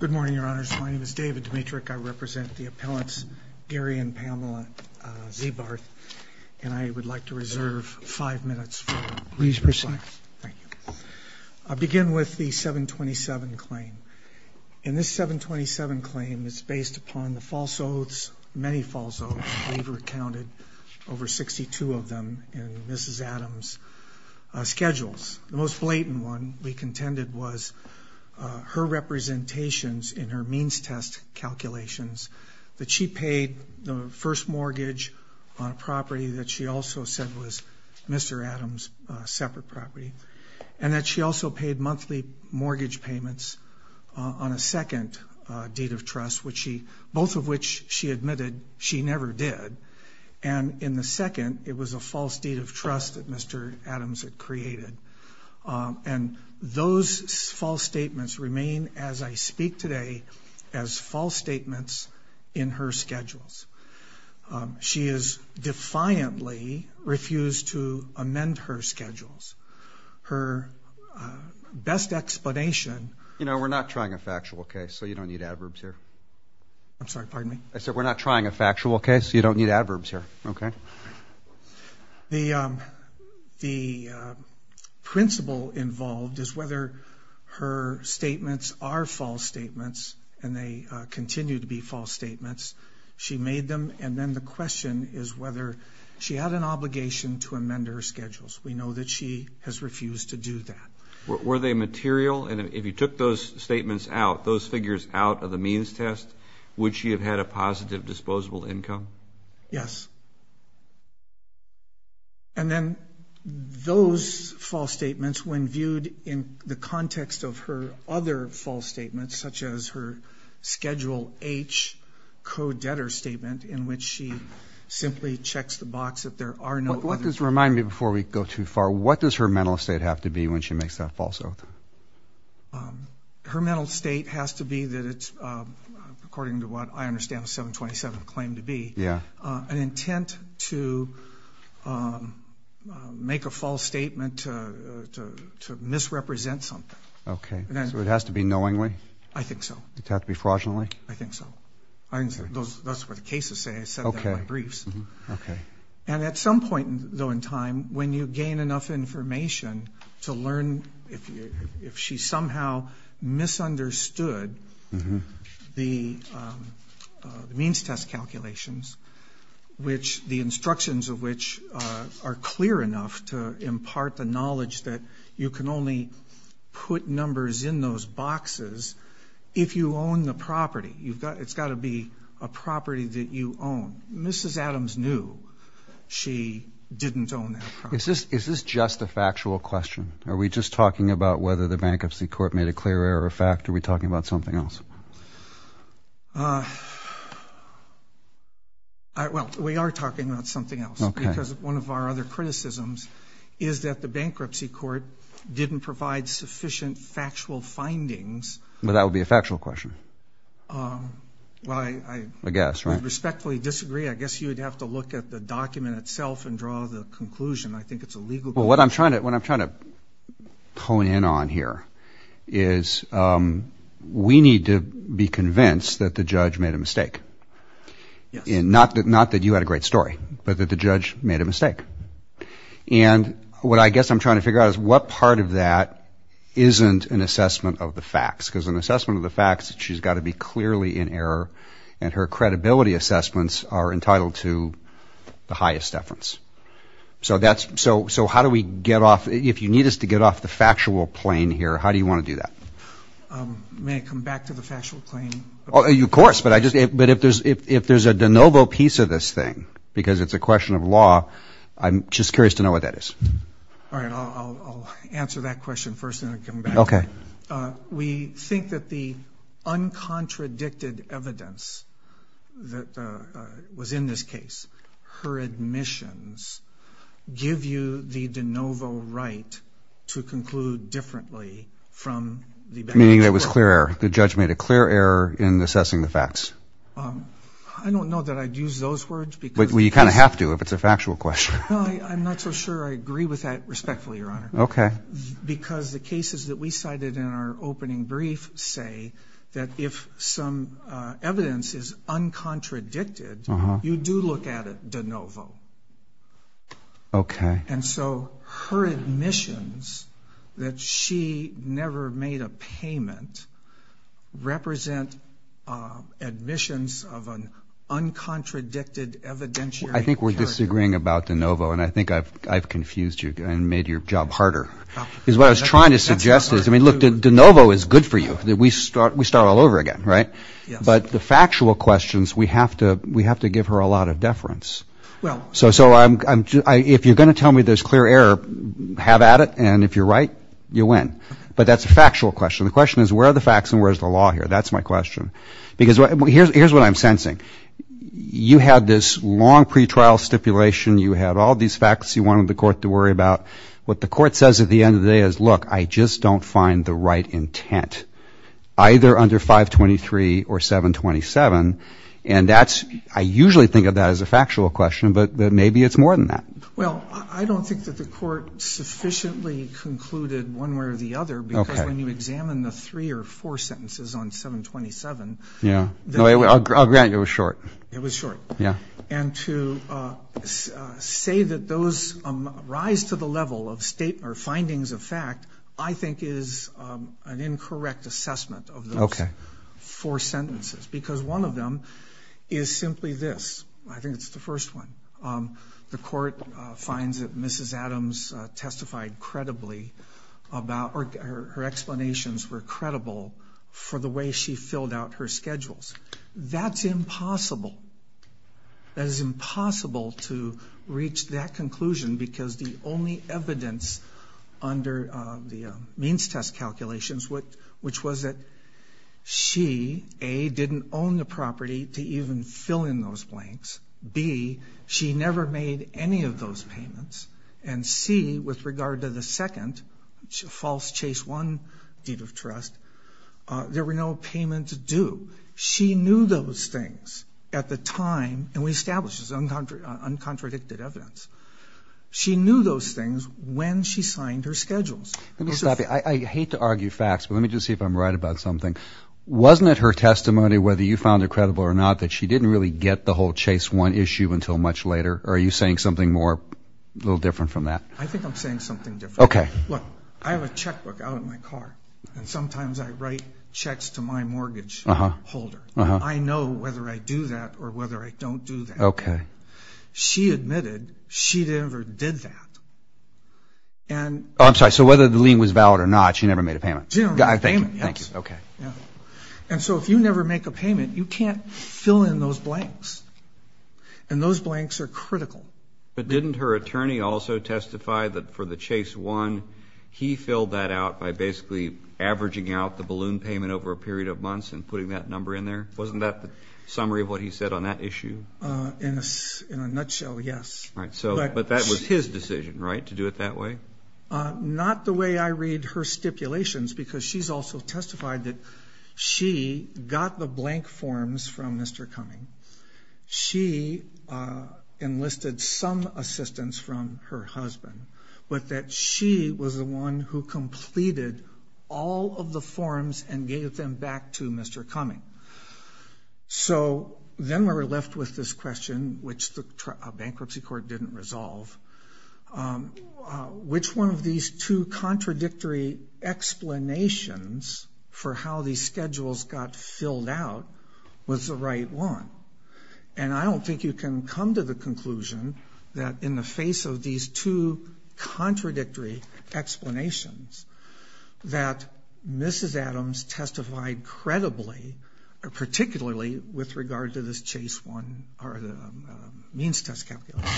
Good morning, Your Honors. My name is David Dimitrick. I represent the appellants Gary and Pamela Zeebarth, and I would like to reserve five minutes. I'll begin with the 727 claim. And this 727 claim is based upon the false oaths, many false oaths. We've recounted over 62 of them in Mrs. Adams' schedules. The most blatant one we contended was her representations in her means test calculations, that she paid the first mortgage on a property that she also said was Mr. Adams' separate property, and that she also paid monthly mortgage payments on a second deed of trust, both of which she admitted she never did. And in the second, it was a false deed of trust that Mr. Adams had created. And those false statements remain, as I speak today, as false statements in her schedules. She has defiantly refused to amend her schedules. Her best explanation... You know, we're not trying a factual case, so you don't need adverbs here. I'm sorry, pardon me? I said, we're not trying a factual case, so you don't need adverbs here, okay? The principle involved is whether her statements are false statements, and they continue to be false statements. She made them, and then the question is whether she had an obligation to amend her schedules. We know that she has refused to do that. Were they material? And if you took those statements out, those figures out of the means test, would she have had a positive disposable income? Yes. And then those false statements, when viewed in the context of her other false statements, such as her Schedule H co-debtor statement, in which she simply checks the box that there are no... Remind me before we go too far, what does her mental state have to be when she makes that false oath? Her mental state has to be that it's, according to what I understand the 727 claim to be, an intent to make a false statement to misrepresent something. Okay, so it has to be knowingly? I think so. Does it have to be fraudulently? I think so. That's what the cases say. I said that in my briefs. Okay. And at some point, though, in time, when you gain enough information to learn, if she somehow misunderstood the means test calculations, which the instructions of which are clear enough to impart the knowledge that you can only put numbers in those boxes if you own the property. It's got to be a property that you own. Mrs. Adams knew she didn't own that property. Is this just a factual question? Are we just talking about whether the bankruptcy court made a clear error or fact? Or are we talking about something else? Well, we are talking about something else. Because one of our other criticisms is that the bankruptcy court didn't provide sufficient factual findings. But that would be a factual question. I guess, right? I would respectfully disagree. I guess you would have to look at the document itself and draw the conclusion. I think it's a legal question. Well, what I'm trying to hone in on here is we need to be convinced that the judge made a mistake. Yes. Not that you had a great story, but that the judge made a mistake. And what I guess I'm trying to figure out is what part of that isn't an assessment of the facts? Because an assessment of the facts is that she's got to be clearly in error and her credibility assessments are entitled to the highest deference. So how do we get off? If you need us to get off the factual plane here, how do you want to do that? May I come back to the factual plane? Of course. But if there's a de novo piece of this thing, because it's a question of law, I'm just curious to know what that is. All right. I'll answer that question first and then come back. Okay. We think that the uncontradicted evidence that was in this case, her admissions, give you the de novo right to conclude differently from the factual. Meaning it was clear. The judge made a clear error in assessing the facts. I don't know that I'd use those words because... Well, you kind of have to if it's a factual question. No, I'm not so sure I agree with that respectfully, Your Honor. Okay. Because the cases that we cited in our opening brief say that if some evidence is uncontradicted, you do look at it de novo. Okay. And so her admissions, that she never made a payment, represent admissions of an uncontradicted evidentiary character. I think we're disagreeing about de novo and I think I've confused you and made your job harder because what I was trying to suggest is, I mean, look, de novo is good for you. We start all over again, right? But the factual questions, we have to give her a lot of deference. So if you're going to tell me there's clear error, have at it. And if you're right, you win. But that's a factual question. The question is where are the facts and where's the law here? That's my question. Because here's what I'm sensing. You had this long pretrial stipulation. You had all these facts you wanted the court to worry about. What the court says at the end of the day is, look, I just don't find the right intent either under 523 or 727. And that's, I usually think of that as a factual question, but maybe it's more than that. Well, I don't think that the court sufficiently concluded one way or the other because when you examine the three or four sentences on 727. Yeah. I'll grant you it was short. It was short. Yeah. And to say that those rise to the level of findings of fact, I think is an incorrect assessment of those four sentences because one of them is simply this. I think it's the first one. The court finds that Mrs. Adams testified credibly about, or her explanations were credible for the way she filled out her schedules. That's impossible. That is impossible to reach that conclusion because the only evidence under the means test calculations which was that she, A, didn't own the property to even fill in those blanks, B, she never made any of those payments, and C, with regard to the second false chase one deed of trust, there were no payments due. She knew those things at the time, and we established this as uncontradicted evidence. She knew those things when she signed her schedules. Let me stop you. I hate to argue facts, but let me just see if I'm right about something. Wasn't it her testimony, whether you found it credible or not, that she didn't really get the whole chase one issue until much later, or are you saying something more, a little different from that? I think I'm saying something different. Okay. Look, I have a checkbook out in my car, and sometimes I write checks to my mortgage holder. I know whether I do that or whether I don't do that. Okay. She admitted she never did that. Oh, I'm sorry. So whether the lien was valid or not, she never made a payment? She never made a payment, yes. Thank you. Okay. And so if you never make a payment, you can't fill in those blanks, and those blanks are critical. But didn't her attorney also testify that for the chase one, he filled that out by basically averaging out the balloon payment over a period of months and putting that number in there? Wasn't that the summary of what he said on that issue? In a nutshell, yes. But that was his decision, right, to do it that way? Not the way I read her stipulations, because she's also testified that she got the blank forms from Mr. Cumming. She enlisted some assistance from her husband, but that she was the one who completed all of the forms and gave them back to Mr. Cumming. So then we're left with this question, which the bankruptcy court didn't resolve. Which one of these two contradictory explanations for how these schedules got filled out was the right one? And I don't think you can come to the conclusion that in the face of these two contradictory explanations, that Mrs. Adams testified credibly, particularly with regard to this chase one, or the means test calculation.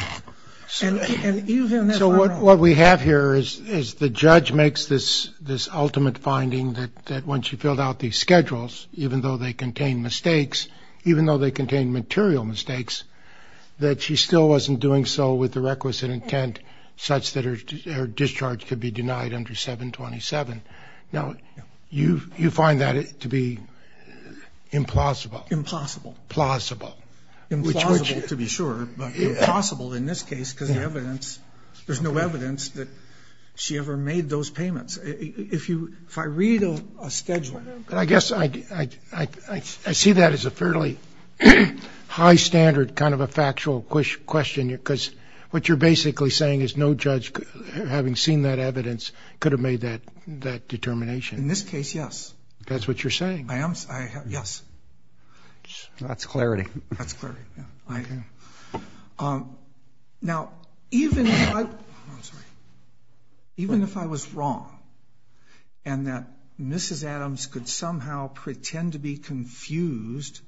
So what we have here is the judge makes this ultimate finding that when she filled out these schedules, even though they contained mistakes, even though they contained material mistakes, that she still wasn't doing so with the requisite intent such that her discharge could be denied under 727. Now, you find that to be implausible. Impossible. Plausible. Implausible to be sure, but plausible in this case because there's no evidence that she ever made those payments. If I read a schedule... I guess I see that as a fairly high standard kind of a factual question because what you're basically saying is no judge, having seen that evidence, could have made that determination. In this case, yes. That's what you're saying. Yes. That's clarity. That's clarity. Now, even if I was wrong and that Mrs. Adams could somehow pretend to be confused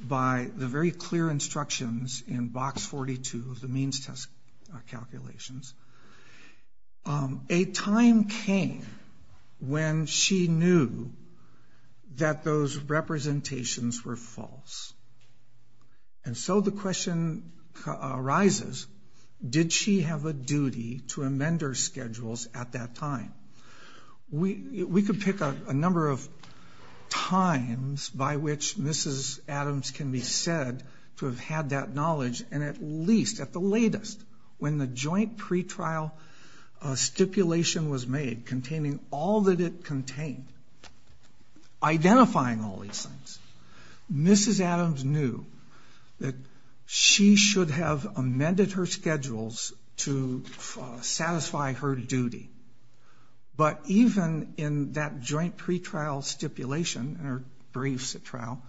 by the very clear instructions in box 42 of the means test calculations, a time came when she knew that those representations were false. And so the question arises, did she have a duty to amend her schedules at that time? We could pick a number of times by which Mrs. Adams can be said to have had that knowledge and at least at the latest, when the joint pretrial stipulation was made containing all that it contained, identifying all these things, Mrs. Adams knew that she should have amended her schedules to satisfy her duty. But even in that joint pretrial stipulation, in her briefs at trial,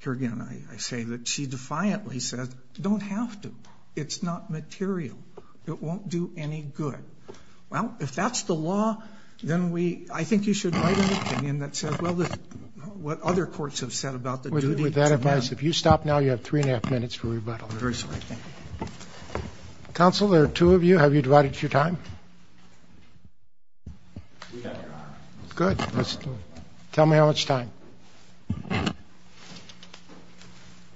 here again I say that she defiantly says, don't have to. It's not material. It won't do any good. Well, if that's the law, then I think you should write an opinion that says, what other courts have said about the duty to amend. With that advice, if you stop now, you have three and a half minutes for rebuttal. I'm very sorry, thank you. Counsel, there are two of you. Have you divided your time? We have, Your Honor. Good. Tell me how much time.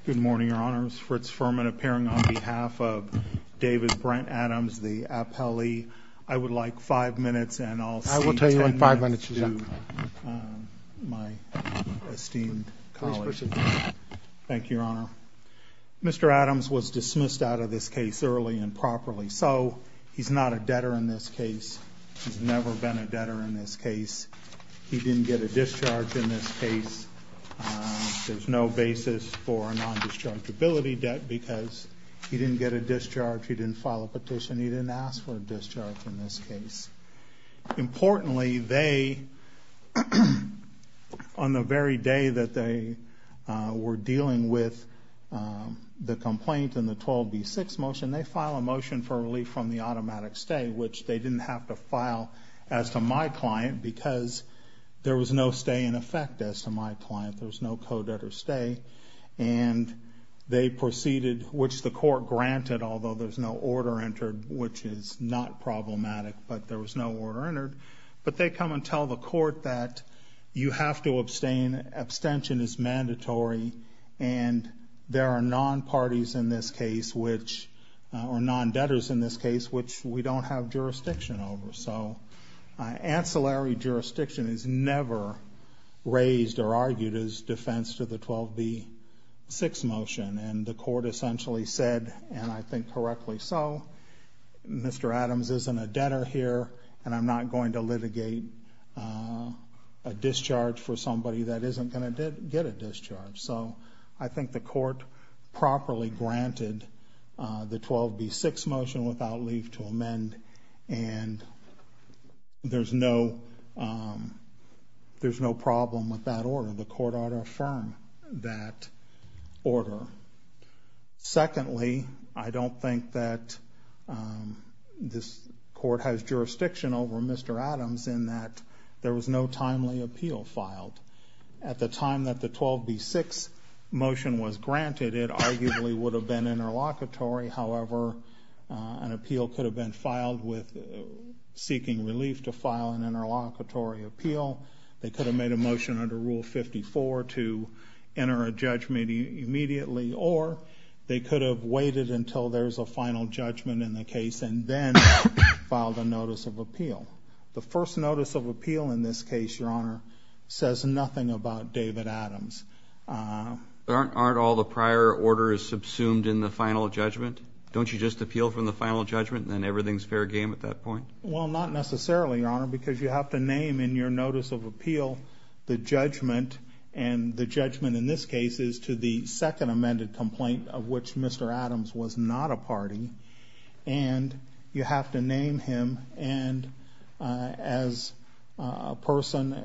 Good morning, Your Honors. Fritz Furman appearing on behalf of David Brent Adams, the appellee. I would like five minutes and I'll say ten minutes to my esteemed colleague. Thank you, Your Honor. Mr. Adams was dismissed out of this case early and properly. So, he's not a debtor in this case. He's never been a debtor in this case. He didn't get a discharge in this case. There's no basis for a non-dischargeability debt because he didn't get a discharge, he didn't file a petition, he didn't ask for a discharge in this case. Importantly, they, on the very day that they were dealing with the complaint and the 12B6 motion, they filed a motion for relief from the automatic stay, which they didn't have to file as to my client because there was no stay in effect as to my client. There was no co-debtor stay. And they proceeded, which the court granted, although there's no order entered, which is not problematic, but there was no order entered, but they come and tell the court that you have to abstain, abstention is mandatory, and there are non-parties in this case, which, or non-debtors in this case, which we don't have jurisdiction over. So, ancillary jurisdiction is never raised or argued as defense to the 12B6 motion. And the court essentially said, and I think correctly so, Mr. Adams isn't a debtor here and I'm not going to litigate a discharge for somebody that isn't going to get a discharge. So, I think the court properly granted the 12B6 motion without leave to amend and there's no there's no problem with that order. The court ought to affirm that order. Secondly, I don't think that this court has jurisdiction over Mr. Adams in that there was no timely appeal filed. At the time that the 12B6 motion was granted, it arguably would have been interlocutory, however an appeal could have been filed with seeking relief to file an interlocutory appeal, they could have made a motion under Rule 54 to enter a judgment immediately, or they could have waited until there's a final judgment in the case and then filed a notice of appeal. The first notice of appeal in this case, Your Honor, says nothing about David Adams. Aren't all the prior orders subsumed in the final judgment? Don't you just appeal from the final judgment and then everything's fair game at that point? Well, not necessarily, Your Honor, because you have to name in your notice of appeal the judgment and the judgment in this case is to the second amended complaint of which Mr. Adams was not a party, and you have to name him, and as a person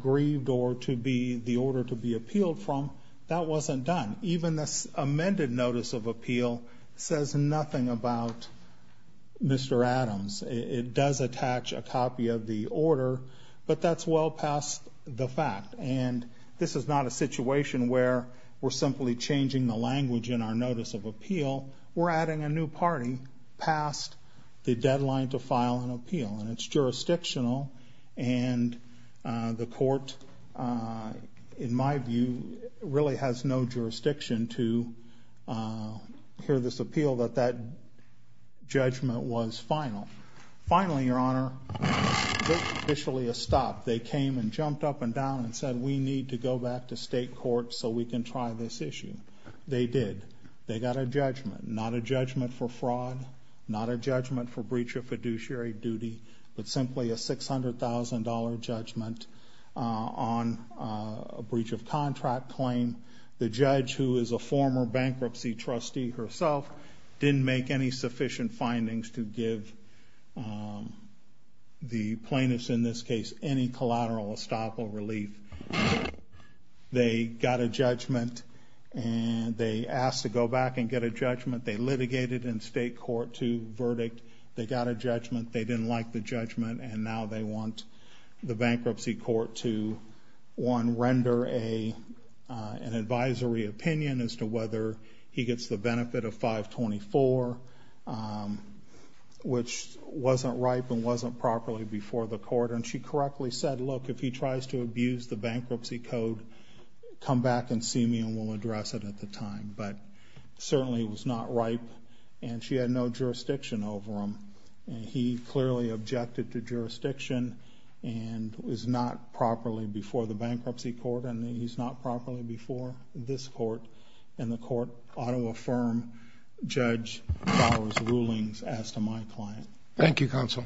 grieved or to be the order to be appealed from, that wasn't done. Even this amended notice of appeal says nothing about Mr. Adams. It does attach a copy of the order, but that's well past the fact, and this is not a situation where we're simply changing the language in our notice of appeal. We're adding a new party past the deadline to file an appeal and it's jurisdictional and the court in my view really has no jurisdiction to hear this appeal that that judgment was final. Finally, Your Honor, there's officially a stop. They came and jumped up and down and said we need to go back to state court so we can try this issue. They did. They got a judgment. Not a judgment for fraud, not a judgment for breach of fiduciary duty, but simply a $600,000 judgment on a breach of contract claim. The judge, who is a former bankruptcy trustee herself, didn't make any sufficient findings to give the plaintiffs in this case any collateral estoppel relief. They got a judgment and they asked to go back and get a judgment. They litigated in state court to verdict. They got a judgment. They didn't like the judgment and now they want the bankruptcy court to one, render an advisory opinion as to whether he gets the benefit of 524, which wasn't ripe and wasn't properly before the court. She correctly said, look, if he tries to abuse the bankruptcy code, come back and see me and we'll address it at the time. Certainly it was not ripe and she had no jurisdiction over him. He clearly objected to jurisdiction and was not properly before the before this court. The court ought to affirm Judge Bauer's rulings as to my client. Thank you, counsel.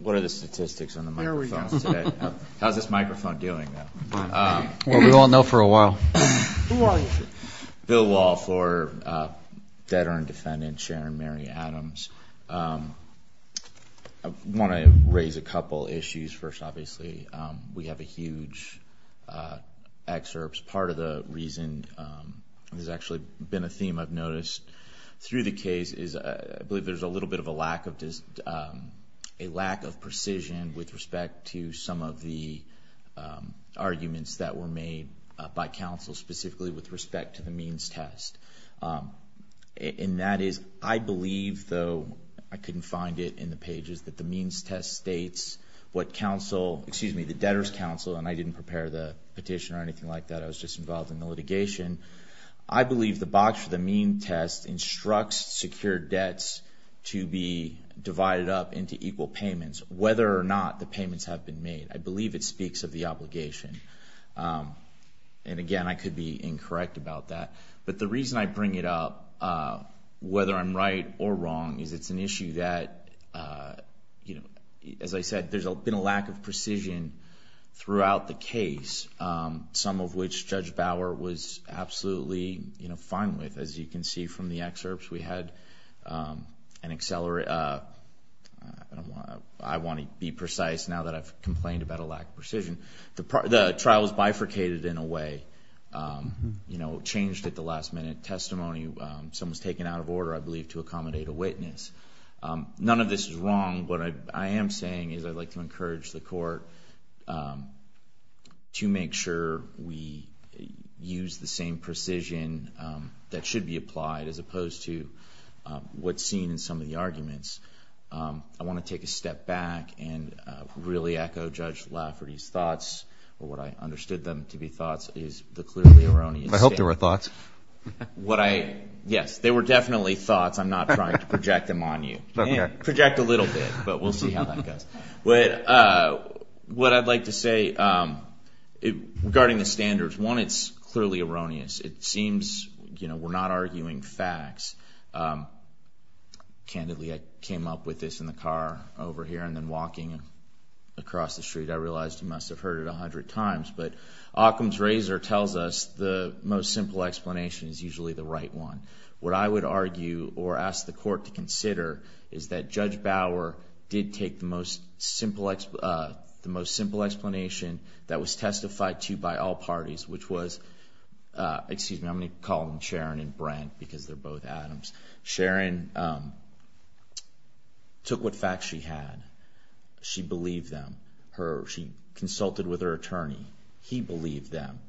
What are the statistics on the microphones today? How is this microphone doing? We all know for a while. Who are you? Bill Wall, debtor and defendant, Sharon Mary Adams. I want to address a couple issues. First, obviously, we have a huge excerpt. Part of the reason, there's actually been a theme I've noticed through the case, is I believe there's a little bit of a lack of precision with respect to some of the arguments that were made by counsel, specifically with respect to the means test. That is, I believe, though I couldn't find it in the pages, that the means test states what the debtor's counsel, and I didn't prepare the petition or anything like that. I was just involved in the litigation. I believe the box for the means test instructs secured debts to be divided up into equal payments, whether or not the payments have been made. I believe it speaks of the obligation. Again, I could be incorrect about that, but the reason I bring it up, whether I'm right or wrong, is it's an issue that, as I said, there's been a lack of precision throughout the case, some of which Judge Bauer was absolutely fine with. As you can see from the excerpts, we had an accelerated... I want to be precise now that I've complained about a lack of precision. The trial was bifurcated in a way, changed at the last minute testimony. Someone was taken out of order, I believe, to accommodate a witness. None of this is wrong. What I am saying is I'd like to encourage the court to make sure we use the same precision that should be applied, as opposed to what's seen in some of the arguments. I want to take a step back and really echo Judge Lafferty's thoughts, or what I understood them to be thoughts, is the clearly erroneous... Yes, they were definitely thoughts. I'm not trying to project them on you. Project a little bit, but we'll see how that goes. What I'd like to say regarding the standards, one, it's clearly erroneous. It seems we're not arguing facts. Candidly, I came up with this in the car over here, and then walking across the street, I realized you must have heard it a hundred times, but Occam's Razor tells us the most simple explanation. What I would argue, or ask the court to consider, is that Judge Bauer did take the most simple explanation that was testified to by all parties, which was... Excuse me, I'm going to call them Sharon and Brent, because they're both Adams. Sharon took what facts she had. She believed them. She consulted with her attorney. He believed them,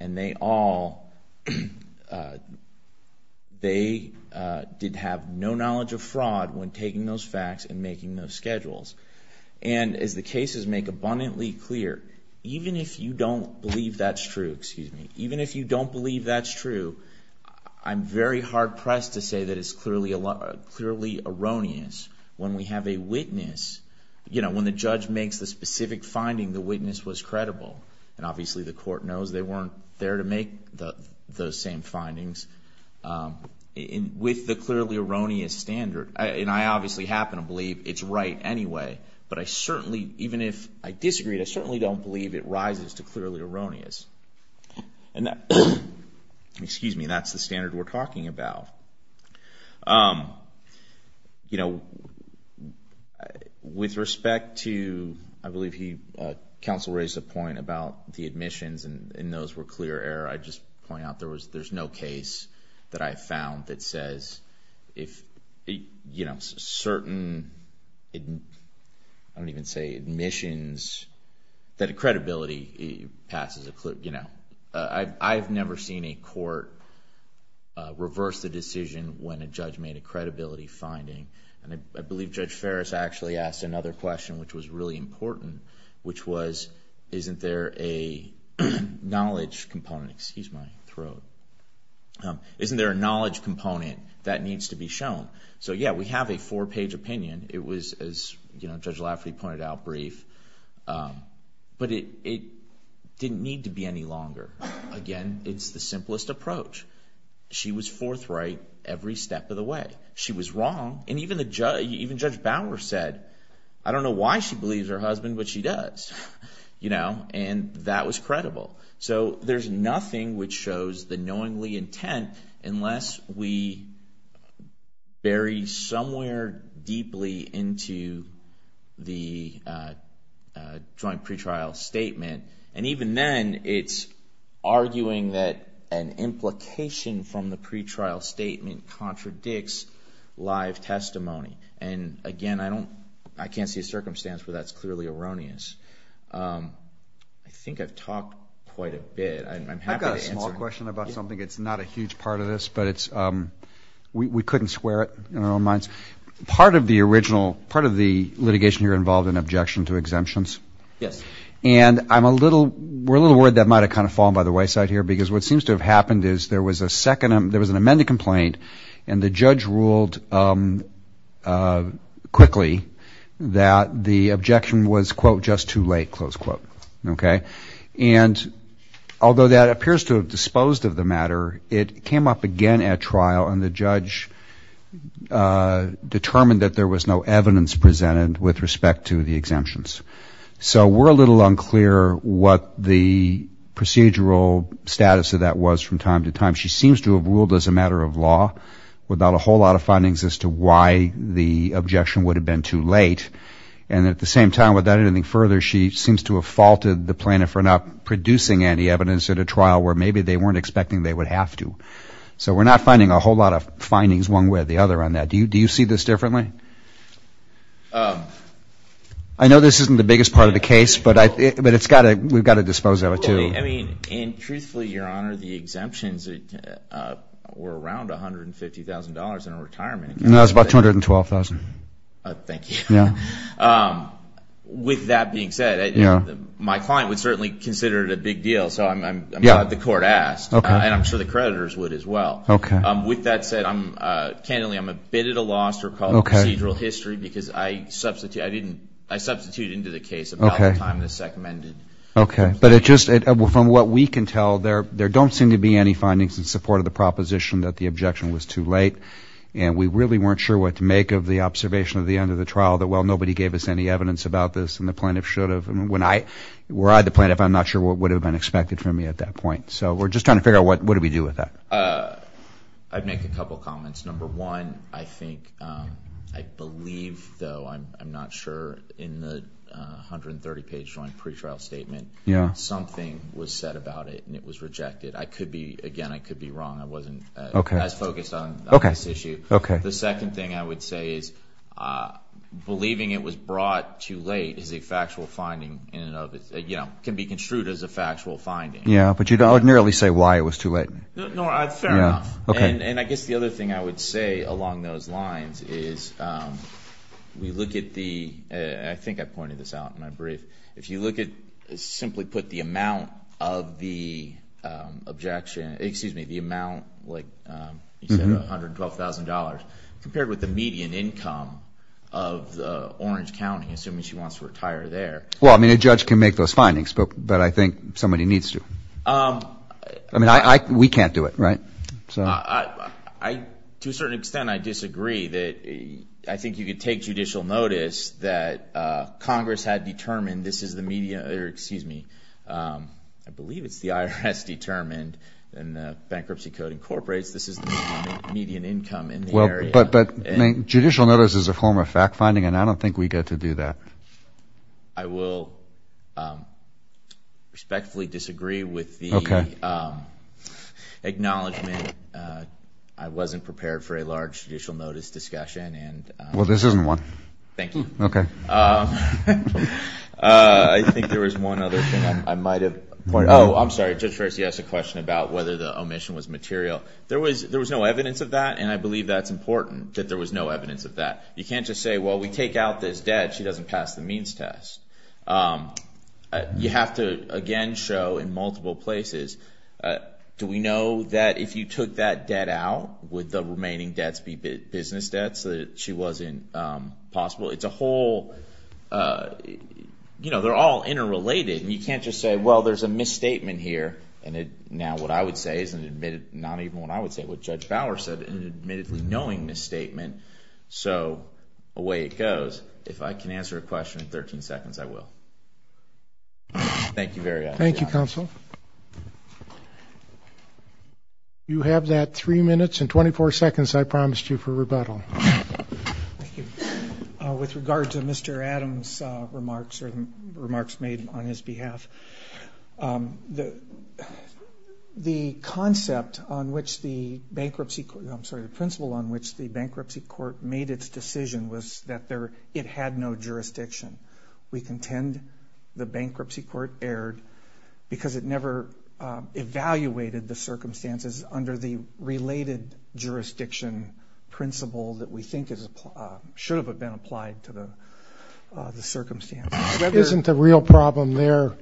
and they all... They did have no knowledge of fraud when taking those facts and making those schedules. And as the cases make abundantly clear, even if you don't believe that's true, even if you don't believe that's true, I'm very hard-pressed to say that it's clearly erroneous when we have a witness... When the judge makes the specific finding, the witness was credible. And obviously the court knows they weren't there to make those same findings. With the clearly erroneous standard, and I obviously happen to believe it's right anyway, but I certainly even if I disagree, I certainly don't believe it rises to clearly erroneous. And that... Excuse me, that's the standard we're talking about. You know, with respect to... I believe he... Counsel raised a point about the admissions and those were clear error. I just point out there's no case that I've found that says if certain... I don't even say admissions, that a credibility passes... You know, I've never seen a court reverse the decision when a judge made a credibility finding. And I believe Judge Ferris actually asked another question which was really important, which was, isn't there a knowledge component... Excuse my throat. Isn't there a knowledge component that needs to be shown? So yeah, we have a four-page opinion. It was, as Judge Lafferty pointed out, brief. But it didn't need to be any longer. Again, it's the simplest approach. She was forthright every step of the way. She was wrong, and even the I don't know why she believes her husband, but she does. And that was credible. So there's nothing which shows the knowingly intent unless we bury somewhere deeply into the joint pretrial statement. And even then, it's arguing that an implication from the pretrial statement contradicts live testimony. And again, I don't... I can't see a circumstance where that's clearly erroneous. I think I've talked quite a bit. I'm happy to answer... I've got a small question about something. It's not a huge part of this, but it's... We couldn't square it in our own minds. Part of the original... Part of the litigation here involved an objection to exemptions. Yes. And I'm a little... We're a little worried that might have kind of fallen by the wayside here, because what seems to have happened is there was a second... There was an amended complaint, and the judge said quickly that the objection was quote, just too late, close quote. Okay? And although that appears to have disposed of the matter, it came up again at trial, and the judge determined that there was no evidence presented with respect to the exemptions. So we're a little unclear what the procedural status of that was from time to time. She seems to have ruled as a matter of law without a whole lot of findings as to why the objection would have been too late, and at the same time without anything further, she seems to have faulted the plaintiff for not producing any evidence at a trial where maybe they weren't expecting they would have to. So we're not finding a whole lot of findings one way or the other on that. Do you see this differently? Um... I know this isn't the biggest part of the case, but it's got to... We've got to dispose of it, too. I mean, and truthfully, Your Honor, the exemptions were around $150,000 in retirement. No, it was about $212,000. Thank you. With that being said, my client would certainly consider it a big deal, so I'm glad the court asked. And I'm sure the creditors would as well. With that said, candidly, I'm a bit at a loss to recall the procedural history because I substitute into the case about the time the SEC amended. Okay. But from what we can tell, there don't seem to be any findings in support of the proposition that the objection was too late. And we really weren't sure what to make of the observation at the end of the trial that, well, nobody gave us any evidence about this and the plaintiff should have. Were I the plaintiff, I'm not sure what would have been expected from me at that point. So we're just trying to figure out what do we do with that. I'd make a couple comments. Number one, I think... I believe, though, I'm not sure, in the 130-page joint pretrial statement, something was said about it and it was rejected. I could be... again, I could be wrong. I wasn't as focused on this issue. The second thing I would say is believing it was brought too late is a factual finding in and of itself. It can be construed as a factual finding. Yeah, but you don't nearly say why it was too late. No, fair enough. And I guess the other thing I would say along those lines is we look at the... I think I pointed this out in my report, but if you simply put the amount of the objection... excuse me, the amount, like you said, $112,000, compared with the median income of Orange County, assuming she wants to retire there... Well, I mean, a judge can make those findings, but I think somebody needs to. I mean, we can't do it, right? I... to a certain extent, I disagree that I think you could take judicial notice that Congress had determined this is the median... excuse me, I believe it's the IRS determined and the bankruptcy code incorporates this is the median income in the area. But judicial notice is a form of fact-finding, and I don't think we get to do that. I will respectfully disagree with the... Okay... acknowledgement. I wasn't prepared for a large judicial notice discussion, and... Well, this isn't one. Thank you. Okay. I think there was one other thing I might have... Oh, I'm sorry. Judge Ferci asked a question about whether the omission was material. There was no evidence of that, and I believe that's important that there was no evidence of that. You can't just say, well, we take out this debt, she doesn't pass the means test. You have to, again, show in multiple places do we know that if you took that debt out, would the remaining debts be business debts that she wasn't possible? It's a whole... You know, they're all interrelated, and you can't just say, well, there's a misstatement here, and now what I would say is an admitted... not even what I would say, what Judge Bauer said, an admittedly knowing misstatement. So, away it goes. If I can answer a question in 13 seconds, I will. Thank you very much. Thank you, counsel. You have that three minutes and I promised you for rebuttal. Thank you. With regard to Mr. Adams' remarks, or remarks made on his behalf, the concept on which the bankruptcy... I'm sorry, the principle on which the bankruptcy court made its decision was that it had no jurisdiction. We contend the bankruptcy court erred because it never evaluated the circumstances under the principle that we think should have been applied to the circumstances. Isn't the real problem there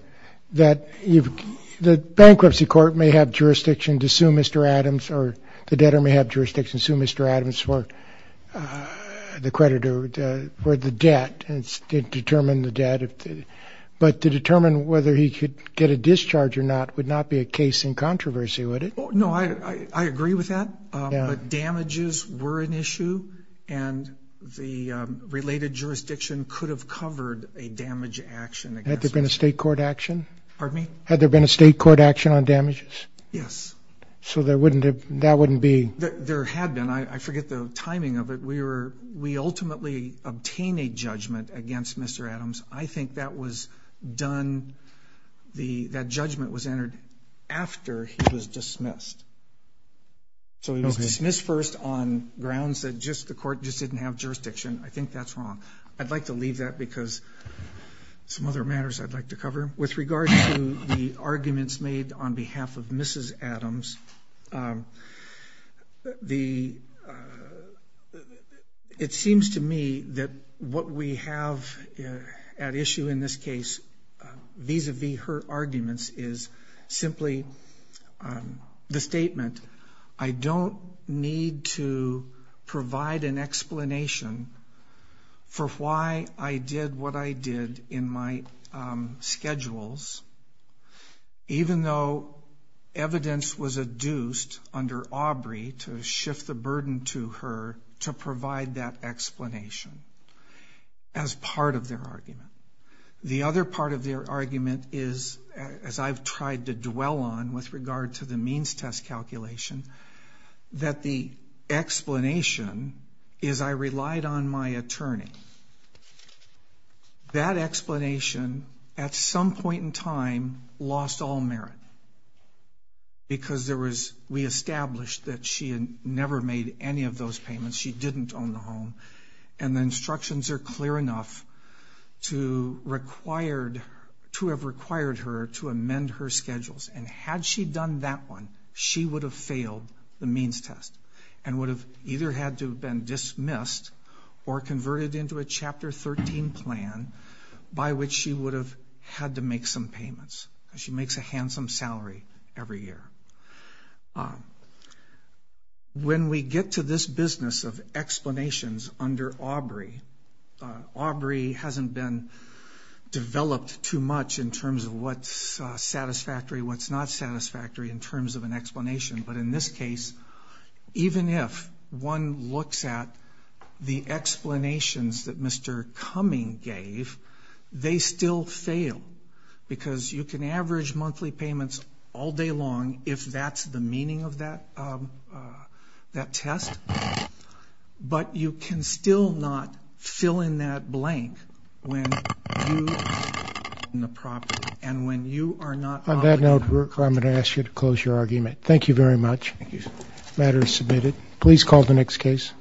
that the bankruptcy court may have jurisdiction to sue Mr. Adams, or the debtor may have jurisdiction to sue Mr. Adams for the creditor... for the debt, and determine the debt. But to determine whether he could get a discharge or not would not be a case in controversy, would it? No, I agree with that. But damages were an issue, and the related jurisdiction could have covered a damage action. Had there been a state court action? Pardon me? Had there been a state court action on damages? Yes. So there wouldn't have... that wouldn't be... There had been. I forget the timing of it. We ultimately obtain a judgment against Mr. Adams. I think that was done... that judgment was entered after he was dismissed. So he was dismissed first on grounds that just the court just didn't have jurisdiction. I think that's wrong. I'd like to leave that because some other matters I'd like to cover. With regard to the arguments made on behalf of Mrs. Adams, it seems to me that what we have at issue in this case vis-a-vis her arguments is simply the statement, I don't need to provide an explanation for why I did what I did in my schedules, even though evidence was adduced under Aubrey to shift the burden to her to provide that explanation as part of their argument. The other part of their argument is, as I've tried to dwell on with regard to the means test calculation, that the explanation is I relied on my attorney. That explanation at some point in time lost all merit because there was... we established that she had never made any of those payments. She didn't own the home, and the instructions are clear enough to have required her to amend her schedules, and had she done that one, she would have failed the means test and would have either had to have been dismissed or converted into a Chapter 13 plan by which she would have had to make some payments. She makes a handsome salary every year. When we get to this business of explanations under Aubrey, Aubrey hasn't been developed too much in terms of what's satisfactory, what's not satisfactory in terms of an explanation, but in this case, even if one looks at the explanations that Mr. Cumming gave, they still fail because you can average monthly payments all day long if that's the meaning of that test, but you can still not fill in that blank when you are in the property and when you are not... On that note, I'm going to ask you to close your argument. Thank you very much. The matter is submitted. Please call the next case.